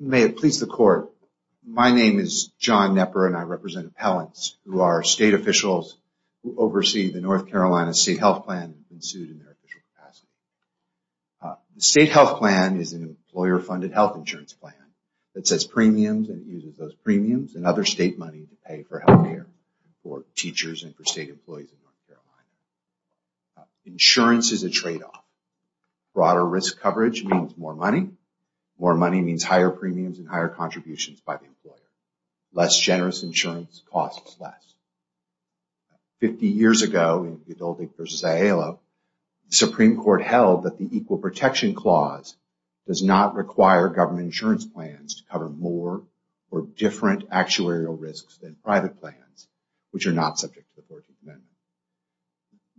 May it please the court. My name is John Knepper and I represent appellants who are state officials oversee the North Carolina state health plan State health plan is an employer funded health insurance plan That says premiums and uses those premiums and other state money to pay for healthier for teachers and for state employees Insurance is a trade-off Broader risk coverage means more money more money means higher premiums and higher contributions by the employer less generous insurance costs less 50 years ago in the adulting versus a halo Supreme Court held that the Equal Protection Clause Does not require government insurance plans to cover more or different actuarial risks than private plans Which are not subject to the 14th Amendment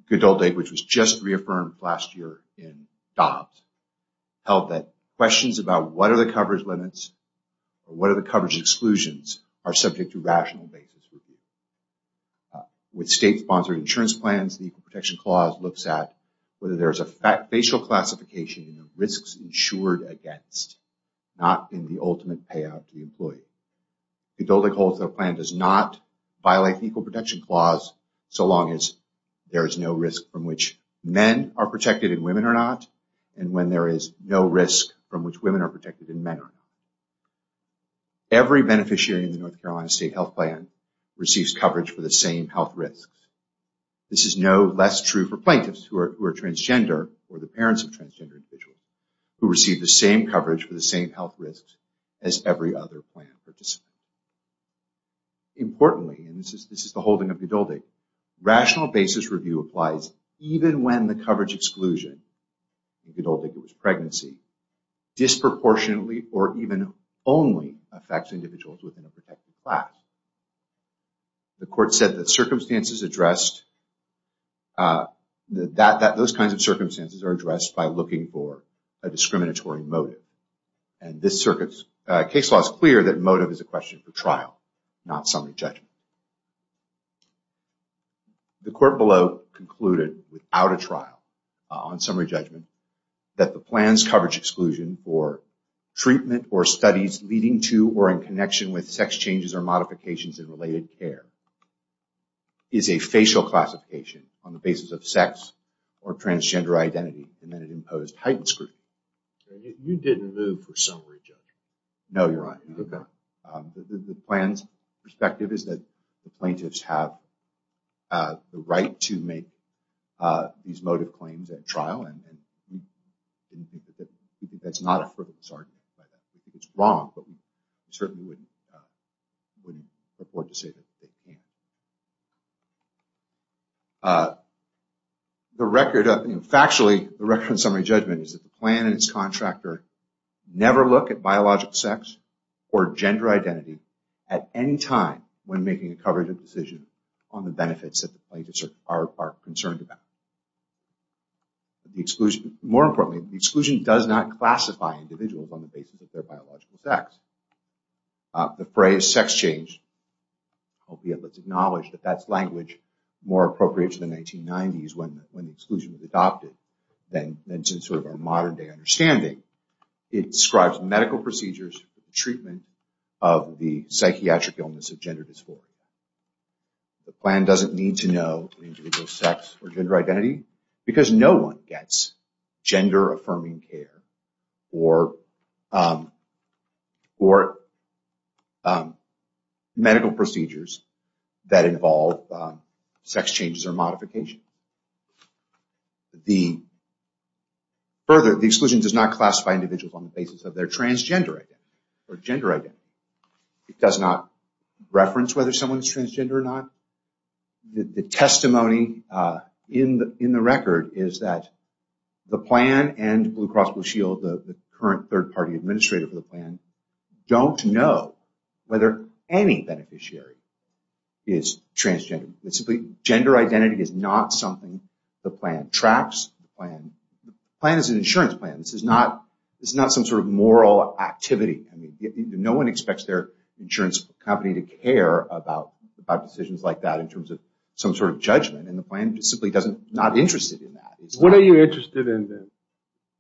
Good old egg, which was just reaffirmed last year in Dobbs Held that questions about what are the coverage limits? What are the coverage exclusions are subject to rational basis? With state-sponsored insurance plans the Equal Protection Clause looks at whether there's a fact facial classification risks insured against The building holds the plan does not violate the Equal Protection Clause so long as There is no risk from which men are protected in women or not And when there is no risk from which women are protected in men Every beneficiary in the North Carolina state health plan receives coverage for the same health risks This is no less true for plaintiffs who are transgender or the parents of transgender individuals Who receive the same coverage for the same health risks as every other plan for just Importantly and this is this is the holding of the adult a rational basis review applies even when the coverage exclusion Good old egg. It was pregnancy Disproportionately or even only affects individuals within a protected class The court said that circumstances addressed That that those kinds of circumstances are addressed by looking for a discriminatory motive and This circuits case law is clear that motive is a question for trial not summary judgment The court below concluded without a trial on summary judgment that the plans coverage exclusion for Treatment or studies leading to or in connection with sex changes or modifications in related care Is a facial classification on the basis of sex or transgender identity and then it imposed heightened scrutiny You didn't move for summary judgment. No, you're right. Okay, the plans perspective is that the plaintiffs have the right to make these motive claims at trial and That's not a perfect sergeant, it's wrong, but we certainly wouldn't Say The record of factually the record summary judgment is that the plan and its contractor Never look at biological sex or gender identity at any time when making a coverage of decision on the benefits That the plaintiffs are concerned about The exclusion more importantly the exclusion does not classify individuals on the basis of their biological sex The phrase sex change Hope you have let's acknowledge that that's language more appropriate to the 1990s when when the exclusion was adopted then then since sort of our modern-day understanding it describes medical procedures for the treatment of the psychiatric illness of gender dysphoria The plan doesn't need to know the individual sex or gender identity because no one gets gender affirming care or Or Medical procedures that involve sex changes or modification the Further the exclusion does not classify individuals on the basis of their transgender or gender identity. It does not Reference whether someone's transgender or not the testimony in the in the record is that The plan and Blue Cross Blue Shield the current third-party administrator for the plan Don't know whether any beneficiary Is transgender it simply gender identity is not something the plan tracks plan Plan is an insurance plan. This is not it's not some sort of moral activity I mean No one expects their insurance company to care about about decisions like that in terms of some sort of judgment and the plan Simply doesn't not interested in that. What are you interested in them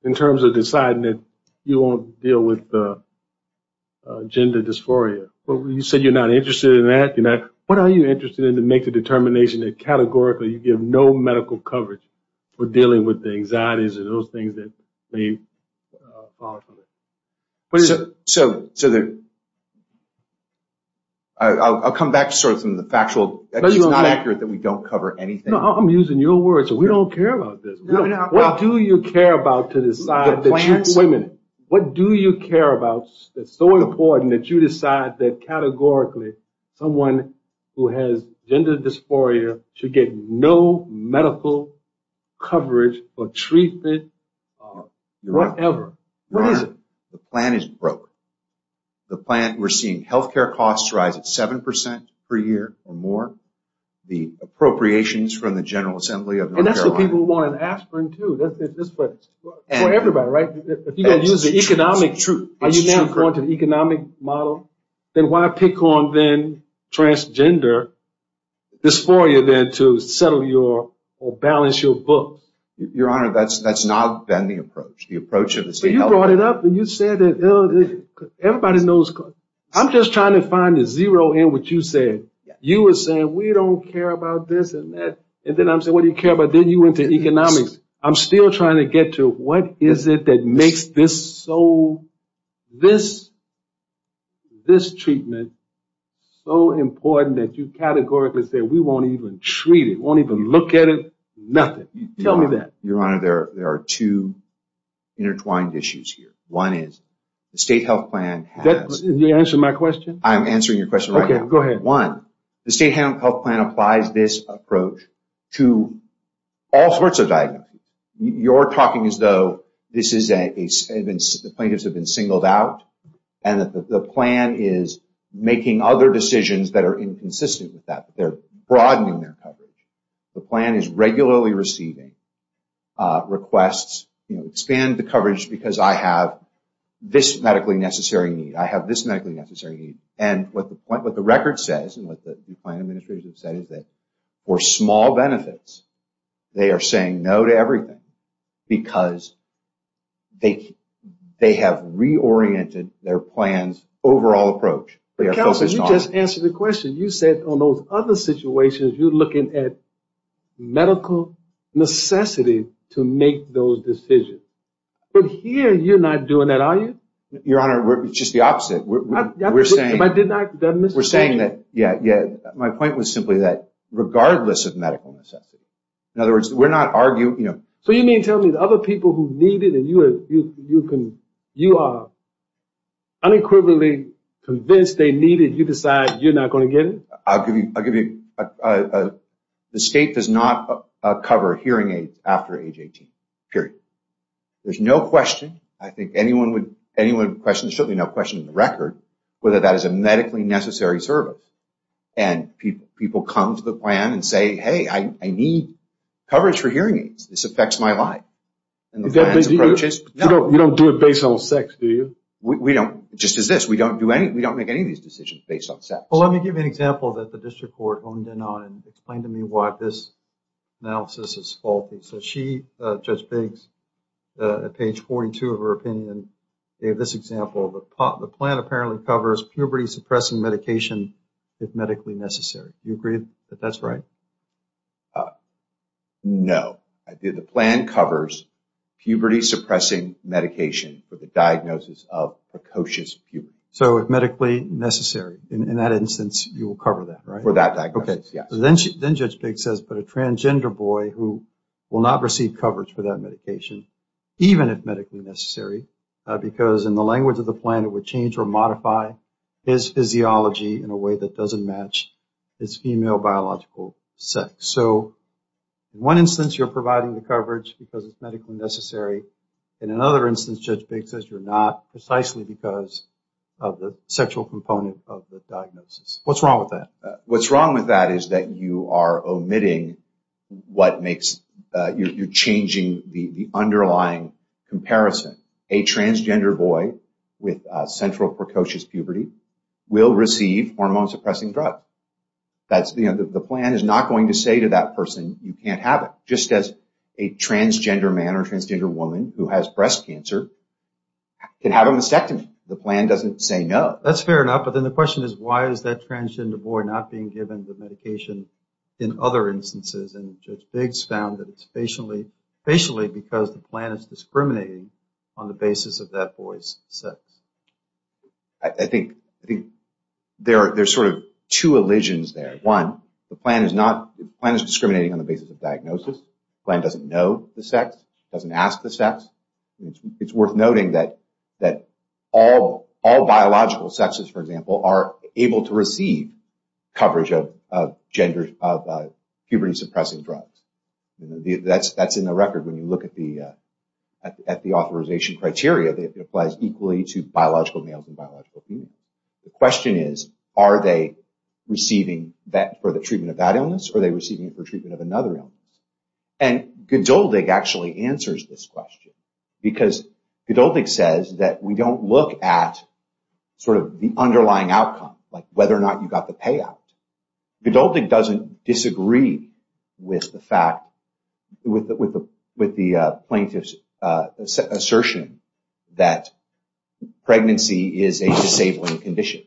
in terms of deciding that you won't deal with? Gender dysphoria, but you said you're not interested in that you know What are you interested in to make the determination that categorically you give no medical coverage for dealing with the anxieties and those things that? What is it so so that I'll come back to sort of some of the factual Accurate that we don't cover anything. I'm using your words. We don't care about this No, no, what do you care about to decide the plans women? What do you care about that's so important that you decide that categorically? Someone who has gender dysphoria should get no medical coverage or treated Whatever The plan is broke the plant we're seeing health care costs rise at 7% per year or more the Appropriations from the General Assembly of that's what people want an aspirin to this Everybody right if you can use the economic truth are you going to the economic model, then why pick on then? transgender This for you then to settle your or balance your books your honor That's that's not been the approach the approach of the state brought it up Everybody knows I'm just trying to find the zero in what you said You were saying we don't care about this and that and then I'm so what do you care about then you went to economics? I'm still trying to get to what is it that makes this so? this this treatment So important that you categorically say we won't even treat it won't even look at it. Nothing. Tell me that your honor There there are two Intertwined issues here one is the state health plan that's the answer my question. I'm answering your question Okay, go ahead one the state health plan applies this approach to all sorts of diagnosis you're talking as though this is a plaintiffs have been singled out and that the plan is Making other decisions that are inconsistent with that. They're broadening their coverage. The plan is regularly receiving Requests you know expand the coverage because I have This medically necessary need I have this medically necessary need and what the point what the record says and what the plan administration said is that? for small benefits they are saying no to everything because they They have reoriented their plans overall approach They are just answer the question you said on those other situations. You're looking at Medical Necessity to make those decisions, but here you're not doing that are you your honor? We're just the opposite we're saying I did not miss we're saying that yeah Yeah, my point was simply that regardless of medical necessity in other words We're not arguing you know so you mean tell me the other people who need it, and you are you you can you are Unequivocally convinced they needed you decide you're not going to get it. I'll give you I'll give you a The state does not cover hearing aids after age 18 period There's no question. I think anyone would anyone question certainly no question in the record whether that is a medically necessary service and People people come to the plan and say hey, I need Coverage for hearing aids this affects my life No, you don't do it based on sex. Do you we don't just as this we don't do any We don't make any of these decisions based on set well Let me give you an example that the district court owned in on and explain to me why this Analysis is faulty so she judge bigs Page 42 of her opinion gave this example of a pot the plan apparently covers puberty suppressing medication If medically necessary you agreed, but that's right No I did the plan covers puberty suppressing Medication for the diagnosis of precocious puberty so if medically necessary in that instance you will cover that right for that Okay, yeah, then she then judge big says but a transgender boy who will not receive coverage for that medication even if medically necessary Because in the language of the planet would change or modify his physiology in a way that doesn't match its female biological sex so One instance you're providing the coverage because it's medically necessary in another instance judge big says you're not precisely because of the sexual component of the Diagnosis what's wrong with that? What's wrong with that? Is that you are omitting? What makes you're changing the underlying? Comparison a transgender boy with central precocious puberty will receive hormone suppressing drug That's the end of the plan is not going to say to that person you can't have it just as a Transgender man or transgender woman who has breast cancer Can have a mastectomy the plan doesn't say no that's fair enough But then the question is why is that transgender boy not being given with medication in other instances? And judge bigs found that it's patiently patiently because the plan is discriminating on the basis of that voice sex I think I think There's sort of two illusions there one the plan is not plan is discriminating on the basis of diagnosis Plan doesn't know the sex doesn't ask the sex It's worth noting that that all all biological sexes for example are able to receive coverage of gender of puberty suppressing drugs that's that's in the record when you look at the At the authorization criteria that applies equally to biological males and biological The question is are they receiving that for the treatment of that illness or they receiving it for treatment of another illness and Gilded actually answers this question because it all big says that we don't look at Sort of the underlying outcome like whether or not you got the payout Gilded doesn't disagree with the fact with the with the plaintiffs assertion that Pregnancy is a disabling condition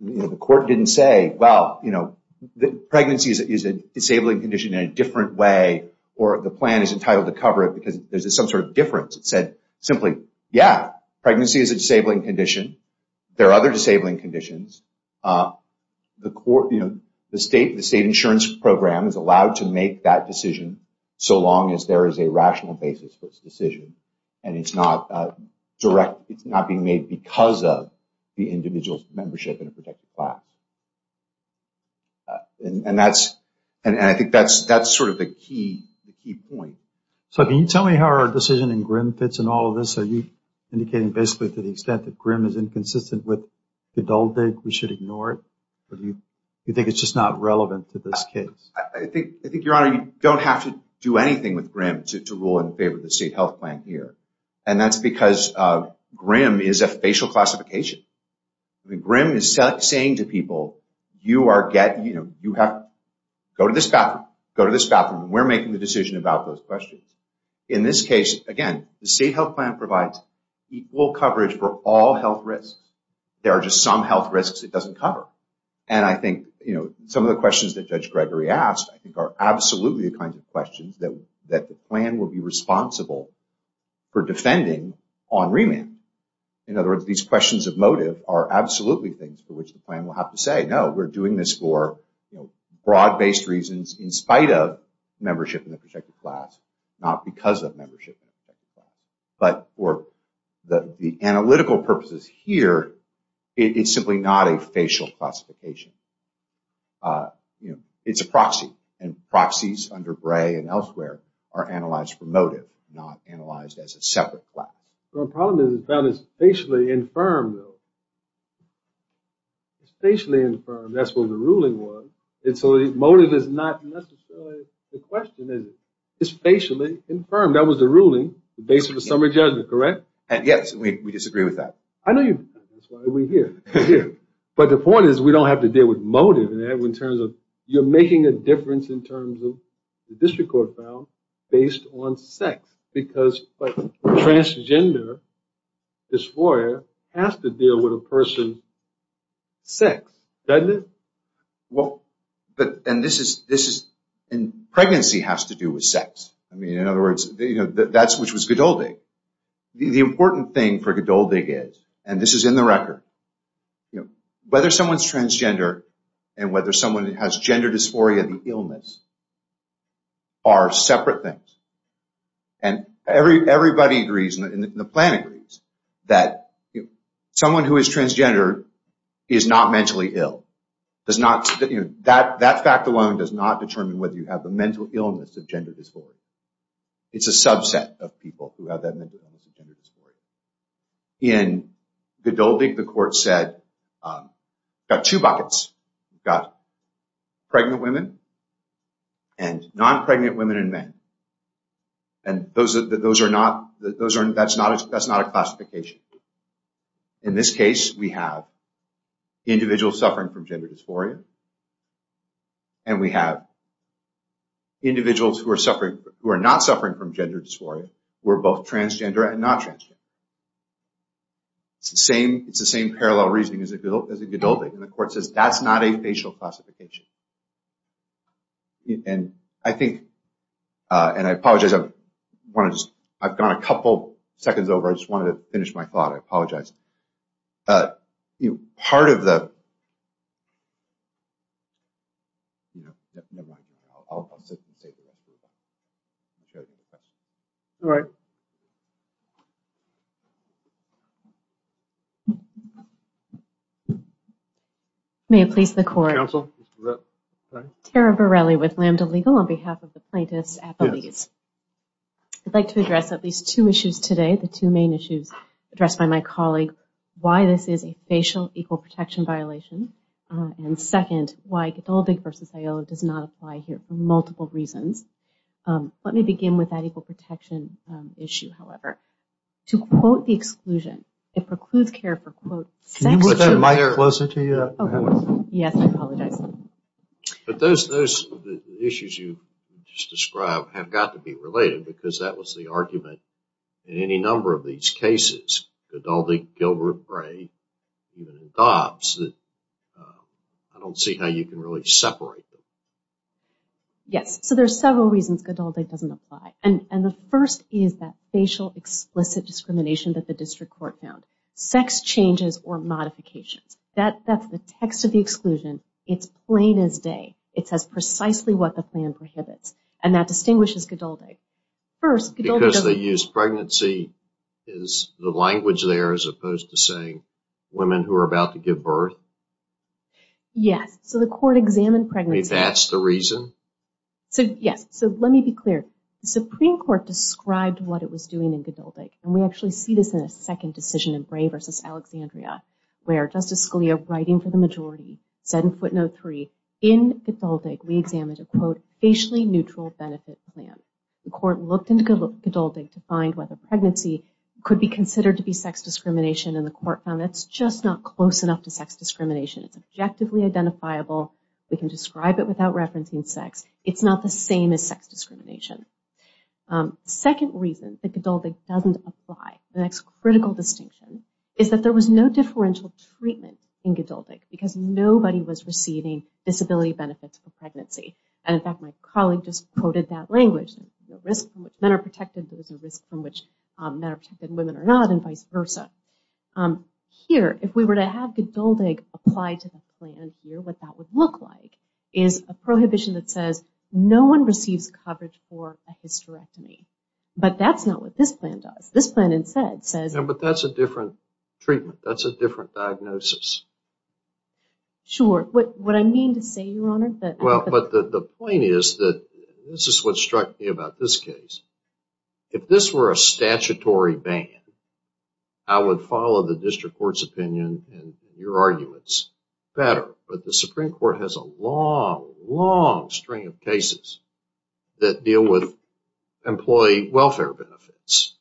The court didn't say well You know the pregnancy is a disabling condition in a different way or the plan is entitled to cover it because there's some sort of Difference it said simply yeah pregnancy is a disabling condition There are other disabling conditions The court you know the state the state insurance program is allowed to make that decision So long as there is a rational basis for its decision, and it's not Direct it's not being made because of the individual's membership in a protected class And that's and I think that's that's sort of the key So can you tell me how our decision in grim fits and all of this are you? Indicating basically to the extent that grim is inconsistent with the dull dig we should ignore it But you you think it's just not relevant to this case I think I think your honor you don't have to do anything with grim to rule in favor of the state health plan here and that's because Grim is a facial classification The grim is saying to people you are getting you know you have to go to this bathroom Go to this bathroom. We're making the decision about those questions in this case again the state health plan provides Equal coverage for all health risks there are just some health risks And I think you know some of the questions that judge Gregory asked I think are absolutely the kinds of questions that that the plan will be responsible For defending on remand in other words these questions of motive are absolutely things for which the plan will have to say no We're doing this for broad based reasons in spite of membership in the protected class not because of membership But or the the analytical purposes here It's simply not a facial classification You know it's a proxy and Proxies under Bray and elsewhere are analyzed for motive not analyzed as a separate class So a problem is that it's basically infirm though Spatially infirm that's what the ruling was it so the motive is not The question is it's spatially infirm that was the ruling the base of the summary judgment correct And yes, we disagree with that. I know you But the point is we don't have to deal with motive in terms of you're making a difference in terms of the district court found based on sex because Transgender this lawyer has to deal with a person Sex doesn't it well, but and this is this is in Pregnancy has to do with sex. I mean in other words. You know that's which was good old day The important thing for Godot big is and this is in the record you know whether someone's transgender and whether someone has gender dysphoria the illness are separate things and Every everybody agrees in the plan agrees that Someone who is transgender is not mentally ill Does not that that fact alone does not determine whether you have the mental illness of gender dysphoria It's a subset of people who have that In the building the court said got two buckets got pregnant women and non-pregnant women and men and Those that those are not those aren't that's not that's not a classification in this case we have individuals suffering from gender dysphoria and we have Individuals who are suffering who are not suffering from gender dysphoria. We're both transgender and not trans It's the same it's the same parallel reasoning as a good old as a good building and the court says that's not a facial classification And I think And I apologize. I want to just I've gone a couple seconds over. I just wanted to finish my thought I apologize you part of the All right May it please the court Tara Bareilly with lambda legal on behalf of the plaintiffs at police I'd like to address at least two issues today the two main issues addressed by my colleague why this is a facial equal protection violation And second why it's all big versus Iola does not apply here for multiple reasons Let me begin with that equal protection Issue however to quote the exclusion it precludes care for quote My hair closer to you Yes, I apologize but those those Issues you just described have got to be related because that was the argument in any number of these cases Godaldi Gilbert Bray Dobbs I Don't see how you can really separate Yes, so there's several reasons good all day doesn't apply and and the first is that facial explicit discrimination that the district court found sex changes or Modifications that that's the text of the exclusion. It's plain as day It says precisely what the plan prohibits and that distinguishes good all day first because they use pregnancy is The language there as opposed to saying women who are about to give birth Yes, so the court examined pregnancy. That's the reason So yes, so let me be clear Supreme Court described what it was doing in Godaldi and we actually see this in a second decision in Bray versus Alexandria Where justice Scalia writing for the majority said in footnote three in it's all big we examined a quote Facially neutral benefit plan the court looked into good look adulting to find whether pregnancy Could be considered to be sex discrimination and the court found. It's just not close enough to sex discrimination It's objectively identifiable. We can describe it without referencing sex. It's not the same as sex discrimination Second reason that Godaldi doesn't apply the next critical distinction is that there was no differential treatment in Godaldi because nobody was Receiving disability benefits for pregnancy. And in fact, my colleague just quoted that language Risk men are protected. There's a risk from which men are protected women are not and vice versa Here if we were to have good building applied to the plan here What that would look like is a prohibition that says no one receives coverage for a hysterectomy But that's not what this plan does this plan instead says but that's a different treatment. That's a different diagnosis Sure what what I mean to say your honor, but well, but the point is that this is what struck me about this case If this were a statutory ban, I Would follow the district court's opinion and your arguments better But the Supreme Court has a long long string of cases that deal with employee welfare benefits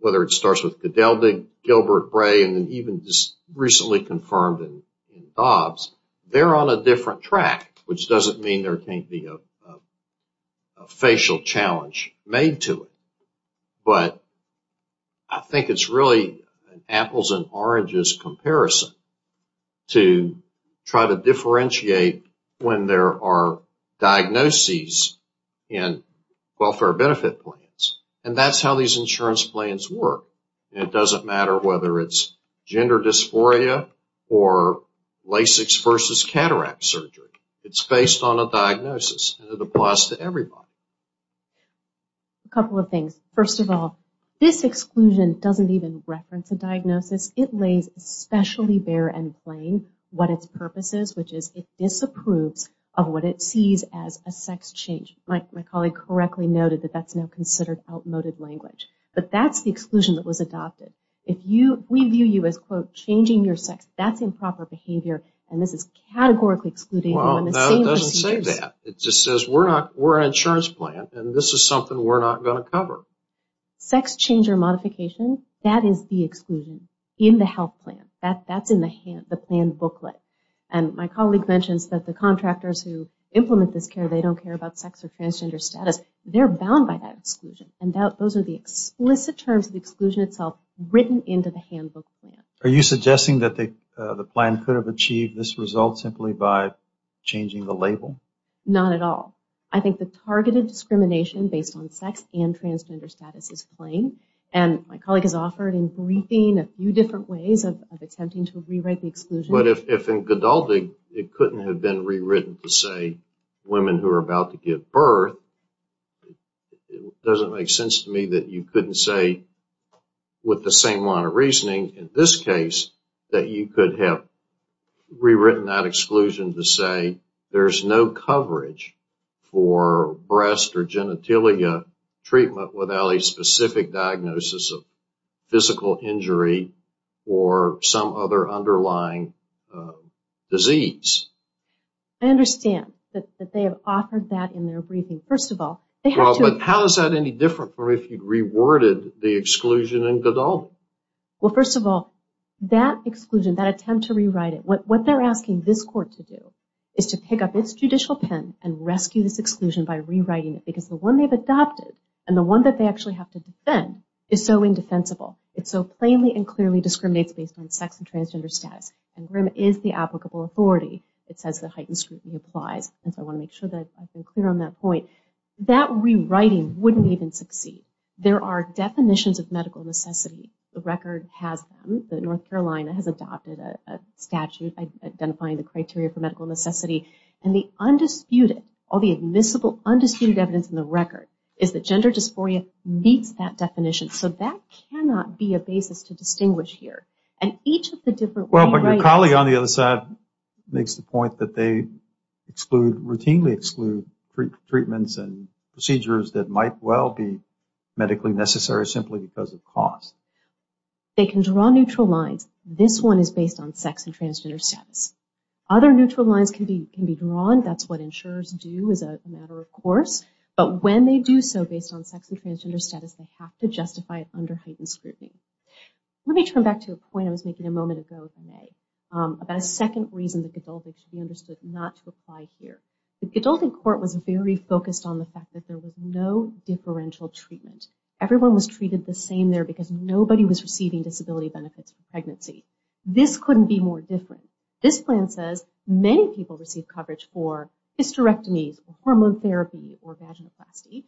Whether it starts with the Delta Gilbert Bray and even just recently confirmed in Bob's they're on a different track, which doesn't mean there can't be a Facial challenge made to it but I Think it's really apples and oranges comparison to try to differentiate when there are diagnoses in Welfare benefit plans, and that's how these insurance plans work. It doesn't matter whether it's gender dysphoria or Lasix versus cataract surgery, it's based on a diagnosis the plus to everybody a Couple of things first of all this exclusion doesn't even reference a diagnosis it lays Especially bare and plain what its purpose is which is it disapproves of what it sees as a sex change My colleague correctly noted that that's now considered outmoded language But that's the exclusion that was adopted if you we view you as quote changing your sex That's improper behavior, and this is categorically excluding It just says we're not we're an insurance plan, and this is something we're not going to cover sex change or modification that is the exclusion in the health plan that that's in the hand the plan booklet and My colleague mentions that the contractors who implement this care. They don't care about sex or transgender status They're bound by that exclusion and doubt those are the explicit terms of the exclusion itself written into the handbook Are you suggesting that they the plan could have achieved this result simply by? Changing the label not at all I think the targeted discrimination based on sex and transgender status is playing and My colleague has offered in briefing a few different ways of attempting to rewrite the exclusion But if in conducting it couldn't have been rewritten to say women who are about to give birth It doesn't make sense to me that you couldn't say With the same line of reasoning in this case that you could have Rewritten that exclusion to say there's no coverage for breast or genitalia treatment without a specific diagnosis of physical injury or some other underlying disease I Understand that they have offered that in their briefing first of all They have but how is that any different for if you'd reworded the exclusion in good old? Well first of all that exclusion that attempt to rewrite it what what they're asking this court to do Is to pick up its judicial pen and rescue this exclusion by rewriting it because the one they've adopted And the one that they actually have to defend is so indefensible It's so plainly and clearly discriminates based on sex and transgender status and room is the applicable authority It says the heightened scrutiny applies and so I want to make sure that I've been clear on that point That rewriting wouldn't even succeed there are definitions of medical necessity the record has the North Carolina has adopted a statute identifying the criteria for medical necessity and the Gender dysphoria meets that definition so that cannot be a basis to distinguish here and each of the different well but your colleague on the other side makes the point that they exclude routinely exclude Treatments and procedures that might well be medically necessary simply because of cost They can draw neutral lines this one is based on sex and transgender status other neutral lines can be can be drawn That's what insurers do is a matter of course, but when they do so based on sex and transgender status They have to justify it under heightened scrutiny Let me turn back to a point. I was making a moment ago About a second reason that could all be understood not to apply here The adult in court was very focused on the fact that there was no differential treatment Everyone was treated the same there because nobody was receiving disability benefits pregnancy this couldn't be more different This plan says many people receive coverage for hysterectomies hormone therapy or vaginoplasty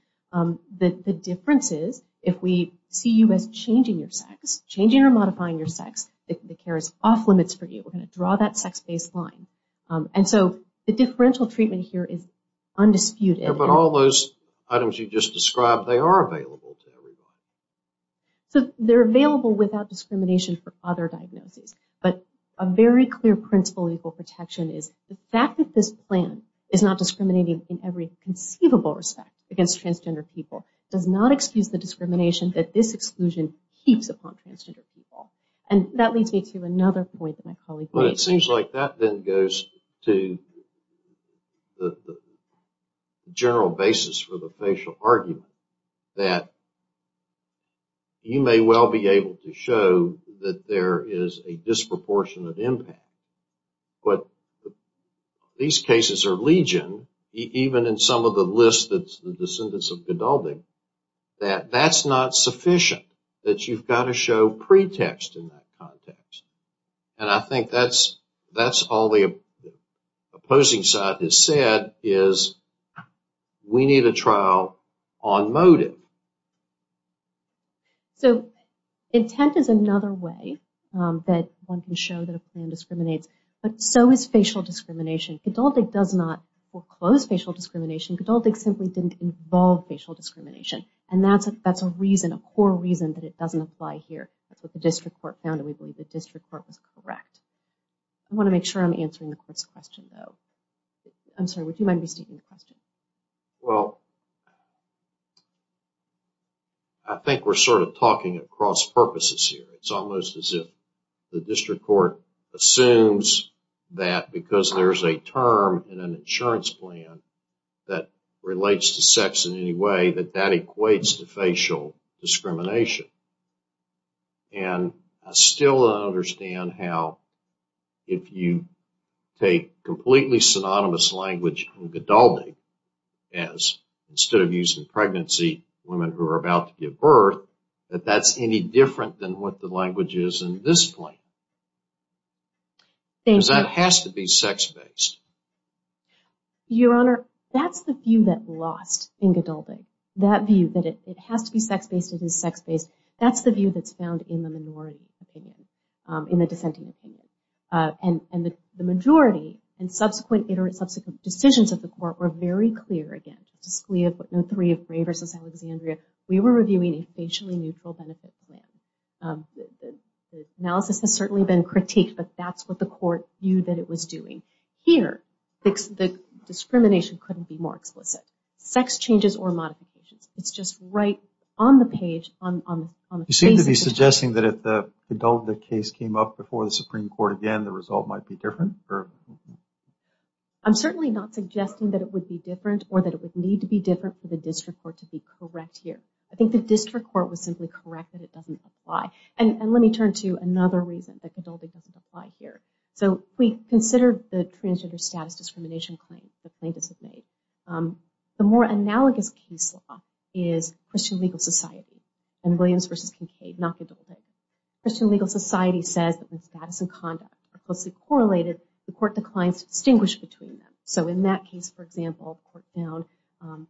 The difference is if we see you as changing your sex changing or modifying your sex if the care is off limits for you We're going to draw that sex baseline And so the differential treatment here is undisputed, but all those items you just described they are available So they're available without discrimination for other diagnosis But a very clear principle equal protection is the fact that this plan is not discriminating in every conceivable respect against transgender people does not excuse the discrimination that this exclusion keeps upon transgender people and That leads me to another point that my colleague, but it seems like that then goes to the general basis for the facial argument that You may well be able to show that there is a disproportionate impact but These cases are legion even in some of the list that's the descendants of gilding That that's not sufficient that you've got to show pretext in that context, and I think that's that's all the opposing side has said is We need a trial on motive So Intent is another way that one can show that a plan discriminates But so is facial discrimination adult it does not foreclose facial discrimination adult It simply didn't involve facial discrimination, and that's it. That's a reason a core reason that it doesn't apply here That's what the district court found and we believe the district court was correct I want to make sure I'm answering the question though I'm sorry, would you mind receiving the question well? I think we're sort of talking across purposes here. It's almost as if the district court assumes That because there's a term in an insurance plan that relates to sex in any way that that equates to facial discrimination and Still I understand how if you take completely synonymous language and Godaldi as Instead of using pregnancy women who are about to give birth that that's any different than what the language is in this plane Because that has to be sex-based Your honor that's the view that lost in Godaldi that view that it has to be sex-based it is sex-based That's the view that's found in the minority opinion in the dissenting opinion And and the majority and subsequent iterate subsequent decisions of the court were very clear again Just we have put no three of Ray versus Alexandria. We were reviewing a facially neutral benefit Analysis has certainly been critiqued, but that's what the court you that it was doing here The discrimination couldn't be more explicit sex changes or modifications. It's just right on the page You seem to be suggesting that if the adult the case came up before the Supreme Court again the result might be different or I'm certainly not suggesting that it would be different or that it would need to be different for the district court to be correct here I think the district court was simply corrected It doesn't apply and let me turn to another reason that Godaldi doesn't apply here So we considered the transgender status discrimination claim the plaintiffs have made the more analogous case law is Christian legal society and Williams versus Kincaid not the double-digit Christian legal society says that when status and conduct are closely correlated the court declines to distinguish between them So in that case, for example court found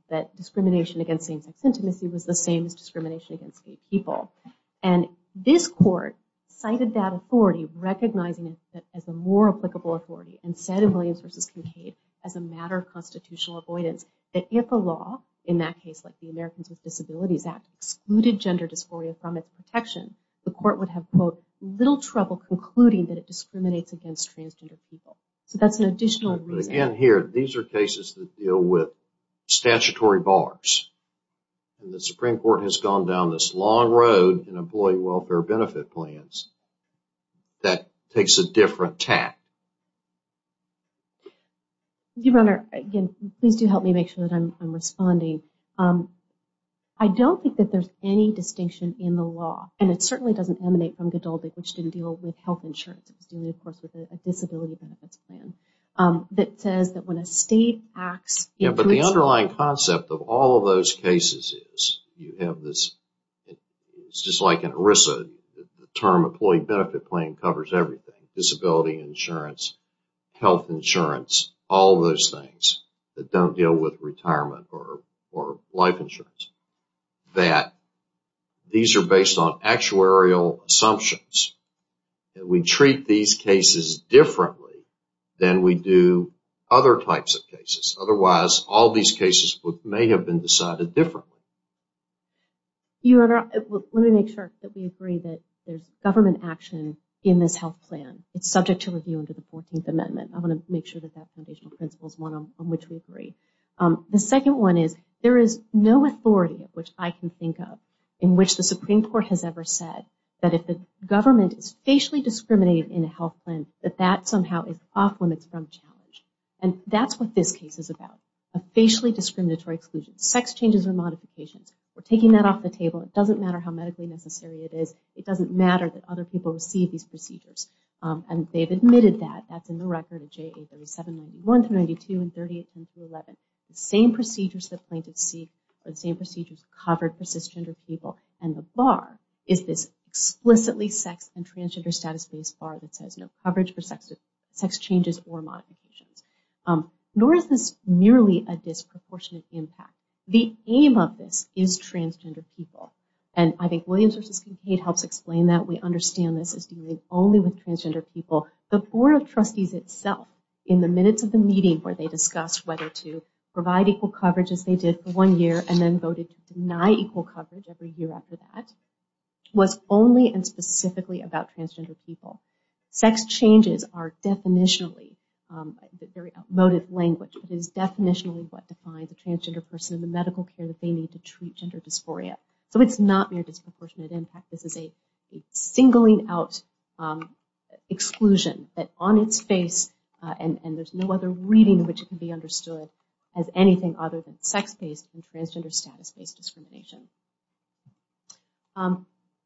that discrimination against same-sex intimacy was the same as discrimination against gay people and this court cited that authority recognizing it as a more applicable authority and said in Williams versus Kincaid as a matter of Disabilities Act excluded gender dysphoria from its protection the court would have quote little trouble concluding that it discriminates against transgender people So that's an additional reason here. These are cases that deal with statutory bars The Supreme Court has gone down this long road and employee welfare benefit plans That takes a different tack You runner again, please do help me make sure that I'm responding I Don't think that there's any distinction in the law and it certainly doesn't emanate from Godaldi which didn't deal with health insurances Do we of course with a disability benefits plan? That says that when a state acts. Yeah, but the underlying concept of all of those cases is you have this It's just like an Orissa the term employee benefit claim covers everything disability insurance Health insurance all those things that don't deal with retirement or or life insurance that These are based on actuarial assumptions We treat these cases Differently than we do other types of cases. Otherwise all these cases may have been decided differently You are let me make sure that we agree that there's government action in this health plan It's subject to review under the 14th Amendment. I want to make sure that that foundational principles one on which we agree the second one is there is no authority of which I can think of in which the Supreme Court has ever said that if the Government is facially discriminated in a health plan that that somehow is off limits from challenge And that's what this case is about a facially discriminatory exclusion sex changes or modifications. We're taking that off the table It doesn't matter how medically necessary it is. It doesn't matter that other people receive these procedures And they've admitted that that's in the record of j8 There was 791 to 92 and 38 10 to 11 the same procedures that plaintiffs see but same procedures covered for cisgender people and the bar is this Explicitly sex and transgender status based bar that says no coverage for sex sex changes or modifications Nor is this merely a disproportionate impact the aim of this is transgender people and I think Williams It helps explain that we understand this is dealing only with transgender people the Board of Trustees itself in the minutes of the meeting where they discussed whether to Provide equal coverage as they did for one year and then voted to deny equal coverage every year after that Was only and specifically about transgender people sex changes are definitionally Motive language is definitionally what defines a transgender person in the medical care that they need to treat gender dysphoria So it's not mere disproportionate impact. This is a singling out Exclusion that on its face and and there's no other reading in which it can be understood as Anything other than sex-based and transgender status based discrimination I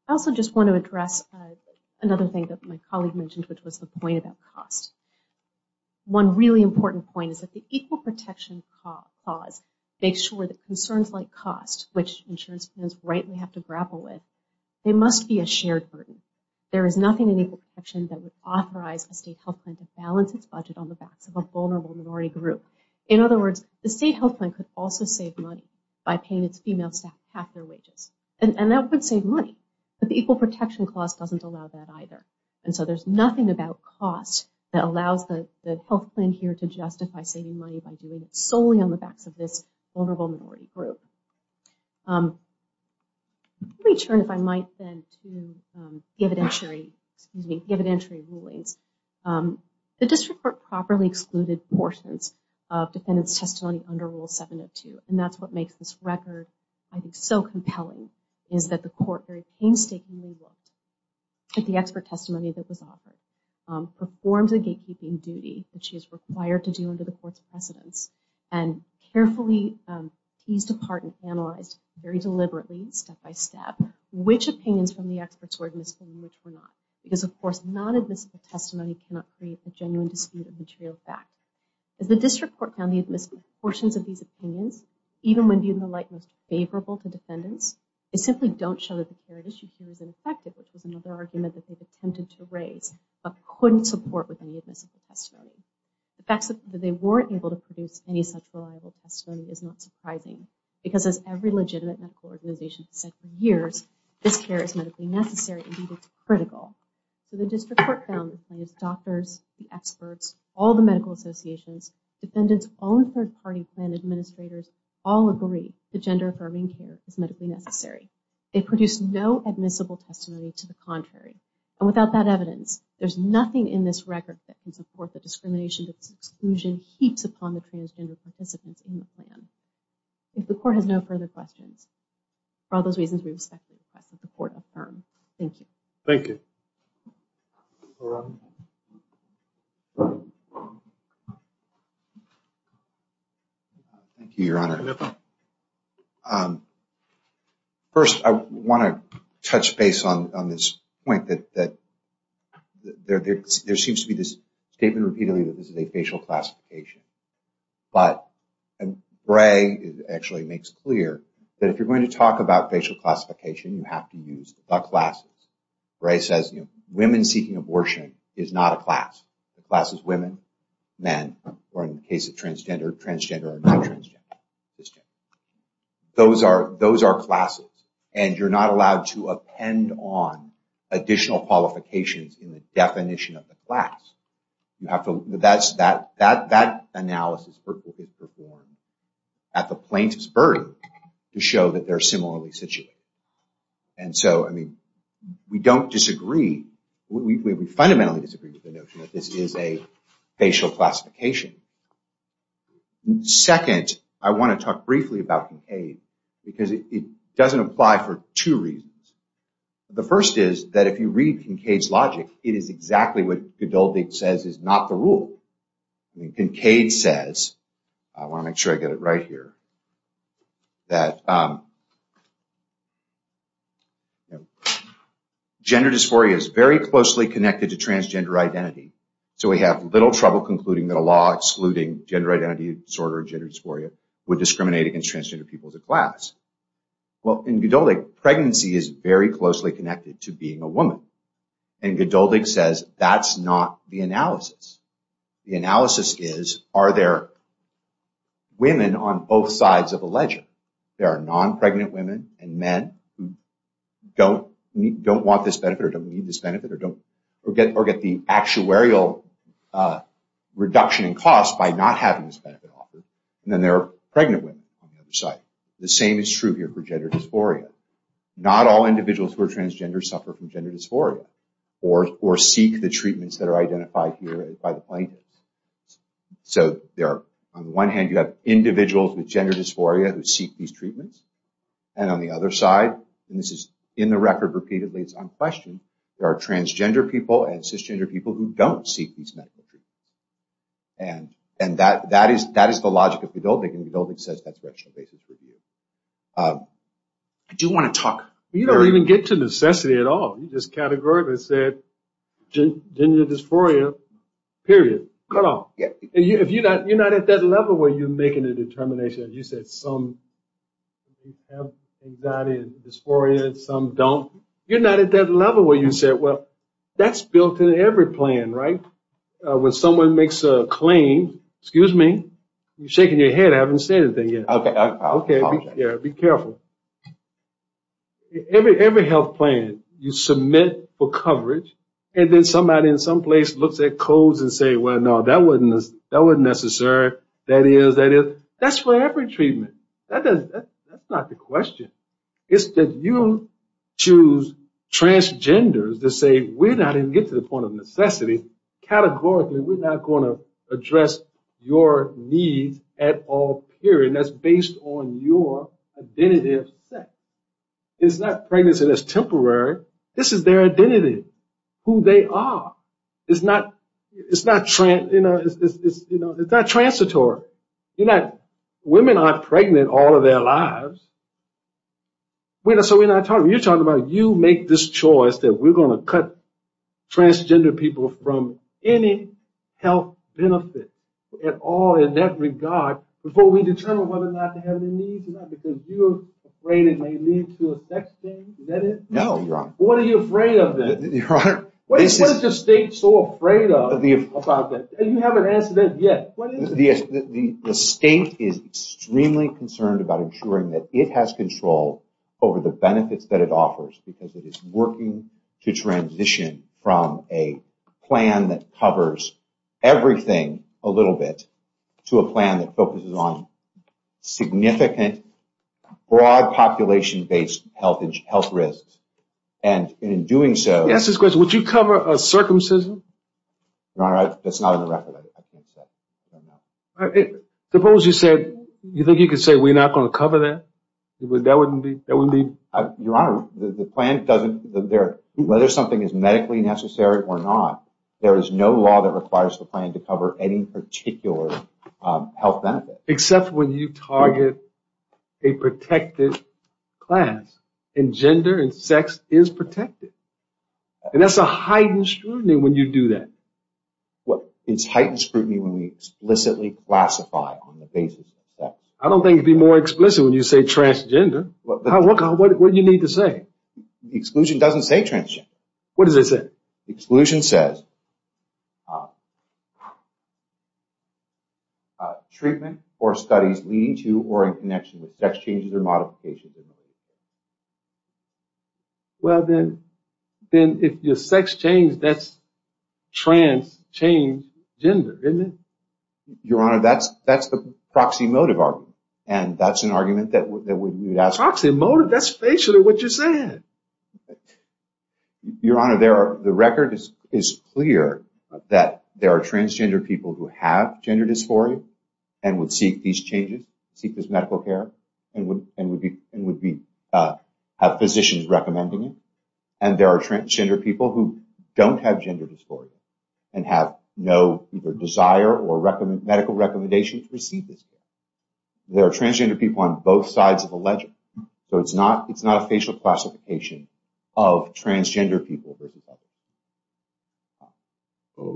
also just want to address another thing that my colleague mentioned, which was the point about cost One really important point is that the equal protection Cause make sure that concerns like cost which insurance funds rightly have to grapple with they must be a shared burden There is nothing in equal protection that would authorize a state health plan to balance its budget on the backs of a vulnerable minority group In other words the state health plan could also save money by paying its female staff half their wages And that would save money, but the equal protection clause doesn't allow that either And so there's nothing about cost that allows the health plan here to justify saving money by doing it solely on the backs of this vulnerable minority group We turn if I might then to evidentiary evidentiary rulings The district court properly excluded portions of defendants testimony under rule 702 and that's what makes this record I think so compelling is that the court very painstakingly At the expert testimony that was offered performs a gatekeeping duty, which is required to do under the court's precedence and carefully Teased apart and analyzed very deliberately step by step Which opinions from the experts were admissible in which were not because of course non-admissible testimony cannot create a genuine dispute of material fact As the district court found the admissible portions of these opinions even when viewed in the light most favorable to defendants They simply don't show that the care at issue here is ineffective, which was another argument that they've attempted to raise but couldn't support with any admissible testimony The fact that they weren't able to produce any such reliable testimony is not surprising because as every legitimate medical organization has said for years This care is medically necessary. Indeed, it's critical. So the district court found the plaintiff's doctors, the experts, all the medical associations Defendants own third-party plan administrators all agree the gender affirming care is medically necessary They produce no admissible testimony to the contrary and without that evidence There's nothing in this record that can support the discrimination that this exclusion heaps upon the transgender participants in the plan If the court has no further questions For all those reasons, we respect the request that the court affirm. Thank you. Thank you Thank you, Your Honor. First, I want to touch base on this point that there seems to be this statement repeatedly that this is a facial classification But Bray actually makes clear that if you're going to talk about facial classification, you have to use the classes Bray says women seeking abortion is not a class. The class is women, men, or in the case of transgender, transgender, or non-transgender Those are those are classes and you're not allowed to append on additional qualifications in the definition of the class You have to that's that that that analysis is performed at the plaintiff's burden to show that they're similarly situated And so, I mean, we don't disagree. We fundamentally disagree with the notion that this is a facial classification Second, I want to talk briefly about Kincaid because it doesn't apply for two reasons The first is that if you read Kincaid's logic, it is exactly what Godoldig says is not the rule Kincaid says, I want to make sure I get it right here, that gender dysphoria is very closely connected to transgender identity So we have little trouble concluding that a law excluding gender identity disorder and gender dysphoria would discriminate against transgender people as a class Well, in Godoldig, pregnancy is very closely connected to being a woman And Godoldig says, that's not the analysis. The analysis is, are there women on both sides of the ledger? There are non-pregnant women and men who don't want this benefit or don't need this benefit or get the actuarial reduction in cost by not having this benefit offered And then there are pregnant women on the other side The same is true here for gender dysphoria Not all individuals who are transgender suffer from gender dysphoria or seek the treatments that are identified here by the plaintiffs So on one hand, you have individuals with gender dysphoria who seek these treatments And on the other side, and this is in the record repeatedly, it's unquestioned, there are transgender people and cisgender people who don't seek these medical treatments And that is the logic of Godoldig, and Godoldig says that's the rational basis for the argument I do want to talk You don't even get to necessity at all You just categorically said gender dysphoria, period, cut off You're not at that level where you're making a determination, you said some have anxiety and dysphoria and some don't You're not at that level where you say, well, that's built in every plan, right? When someone makes a claim, excuse me, you're shaking your head, I haven't said anything yet Okay, be careful Every health plan, you submit for coverage And then somebody in some place looks at codes and says, well, no, that wasn't necessary That is, that is, that's for every treatment That's not the question It's that you choose transgenders to say, we're not even getting to the point of necessity Categorically, we're not going to address your needs at all, period That's based on your identity of sex It's not pregnancy that's temporary This is their identity Who they are It's not, you know, it's not transitory You're not, women aren't pregnant all of their lives So we're not talking, you're talking about you make this choice that we're going to cut transgender people from any health benefit At all in that regard Before we determine whether or not they have any needs Because you're afraid it may lead to a sex change, is that it? No, your honor What are you afraid of then? What is the state so afraid of about this? You haven't answered that yet The state is extremely concerned about ensuring that it has control over the benefits that it offers Because it is working to transition from a plan that covers everything a little bit To a plan that focuses on significant, broad population-based health risks And in doing so Would you cover a circumcision? Your honor, that's not on the record Suppose you said, you think you could say we're not going to cover that? That wouldn't be Your honor, the plan doesn't, whether something is medically necessary or not There is no law that requires the plan to cover any particular health benefit Except when you target a protected class And gender and sex is protected And that's a heightened scrutiny when you do that It's heightened scrutiny when we explicitly classify on the basis of that I don't think it would be more explicit when you say transgender What do you need to say? The exclusion doesn't say transgender What does it say? The exclusion says Treatment or studies leading to or in connection with sex changes or modifications Well then, if your sex change, that's trans, change, gender, isn't it? Your honor, that's the proxy motive argument Proxy motive? That's basically what you're saying Your honor, the record is clear That there are transgender people who have gender dysphoria And would seek these changes, seek this medical care And would have physicians recommending it And there are transgender people who don't have gender dysphoria And have no desire or medical recommendation to receive this care There are transgender people on both sides of the ledger So it's not a facial classification of transgender people versus other people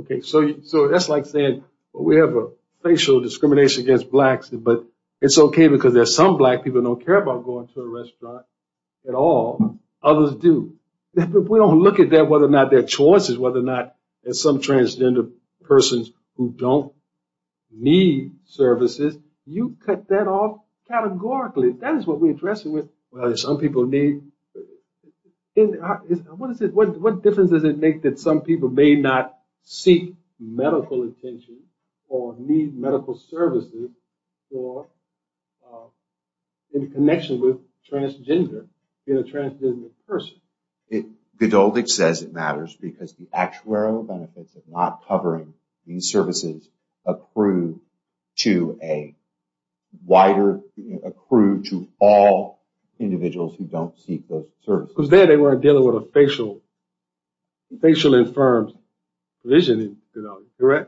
Okay, so that's like saying we have a facial discrimination against blacks But it's okay because there are some black people who don't care about going to a restaurant at all Others do If we don't look at that, whether or not their choices Whether or not there are some transgender persons who don't need services You cut that off categorically That is what we're addressing with Well, some people need What difference does it make that some people may not seek medical attention Or need medical services Or in connection with transgender Being a transgender person Gdowdich says it matters Because the actuarial benefits of not covering these services Accrue to a Wider Accrue to all Individuals who don't seek those services Because there they weren't dealing with a facial Facial-informed Division Your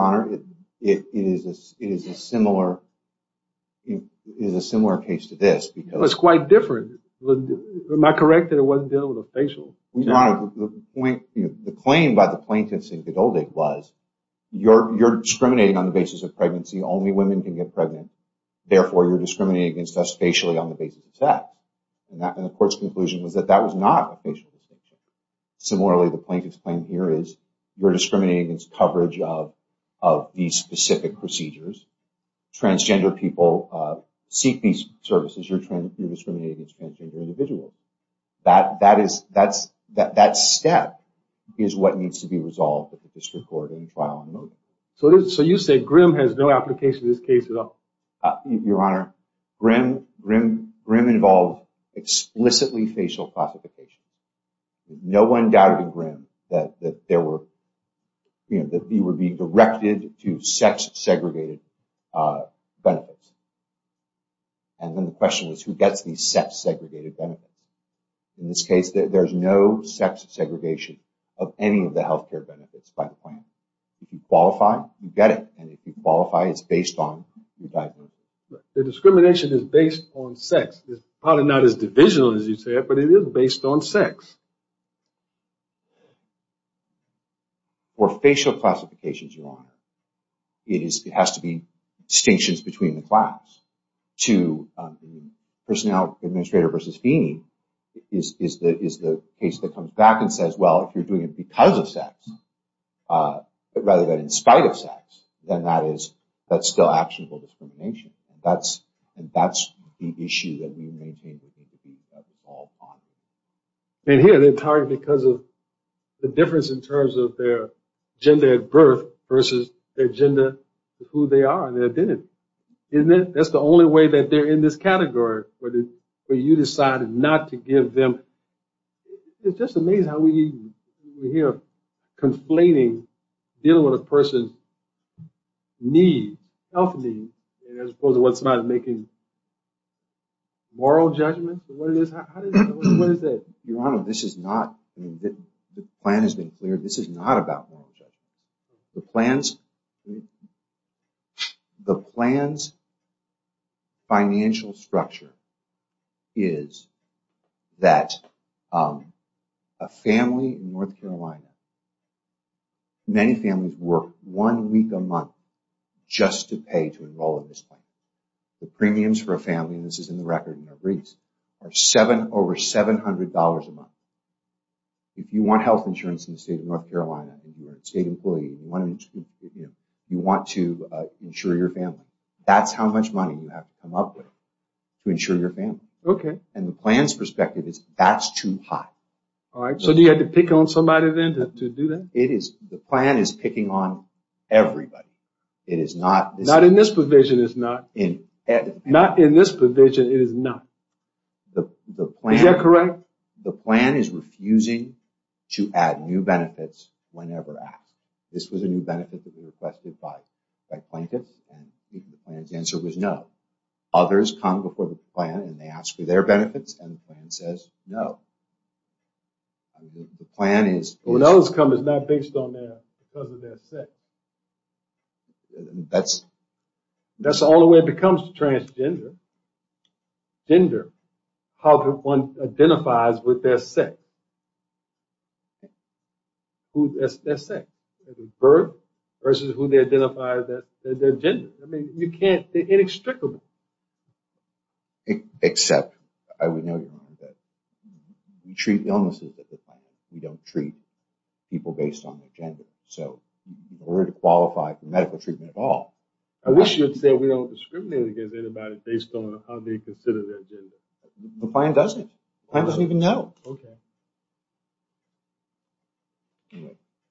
honor It is a similar It is a similar case to this It's quite different Am I correct that it wasn't dealing with a facial Your honor The claim by the plaintiffs in Gdowdich was You're discriminating on the basis of pregnancy Only women can get pregnant Therefore you're discriminating against us facially On the basis of sex And the court's conclusion was that that was not a facial discrimination Similarly The plaintiff's claim here is You're discriminating against coverage of These specific procedures Transgender people Seek these services You're discriminating against transgender individuals That step Is what needs to be resolved So you say Grimm has no application In this case at all Your honor Grimm involved Explicitly facial classification No one doubted in Grimm That there were That he would be directed To sex-segregated Benefits And then the question was Who gets these sex-segregated benefits In this case There's no sex-segregation Of any of the health care benefits By the plaintiff If you qualify, you get it And if you qualify it's based on The discrimination is based on sex It's probably not as divisional as you said But it is based on sex For facial classifications Your honor It has to be Distinctions between the class To personnel Administrator versus fee Is the case that comes back And says well if you're doing it because of sex Rather than In spite of sex Then that's still actionable discrimination And that's The issue that we maintain And here they're targeted because of The difference in terms of their Gender at birth versus Their gender, who they are And their identity That's the only way that they're in this category But you decided not to give them It's just amazing How we hear Complaining dealing with a person Need Health need As opposed to what's not making Moral judgment What is that? Your honor, this is not The plan has been cleared, this is not about moral judgment The plan's The plan's Financial structure Is that A family In North Carolina Many families work One week a month Just to pay to enroll in this plan The premiums for a family And this is in the record Are over $700 a month If you want health insurance In the state of North Carolina If you're a state employee You want to insure your family That's how much money you have to come up with To insure your family And the plan's perspective is That's too high So you had to pick on somebody then to do that? The plan is picking on everybody It is not Not in this provision it's not Not in this provision it is not Is that correct? The plan is refusing To add new benefits Whenever asked This was a new benefit that was requested by The plan's answer was no Others come before the plan And they ask for their benefits And the plan says no The plan is When others come it's not based on their Because of their sex That's That's the only way it becomes transgender Gender How one identifies With their sex Their sex Birth Versus who they identify as their gender I mean you can't They're inextricable Except We treat illnesses We don't treat People based on their gender So in order to qualify for medical treatment at all I wish you had said We don't discriminate against anybody Based on how they consider their gender The plan doesn't The plan doesn't even know Okay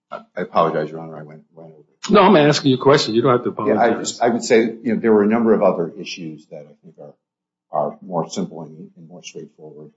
I apologize Your honor I went over No I'm asking you a question I would say there were a number of other issues That are more simple And more straightforward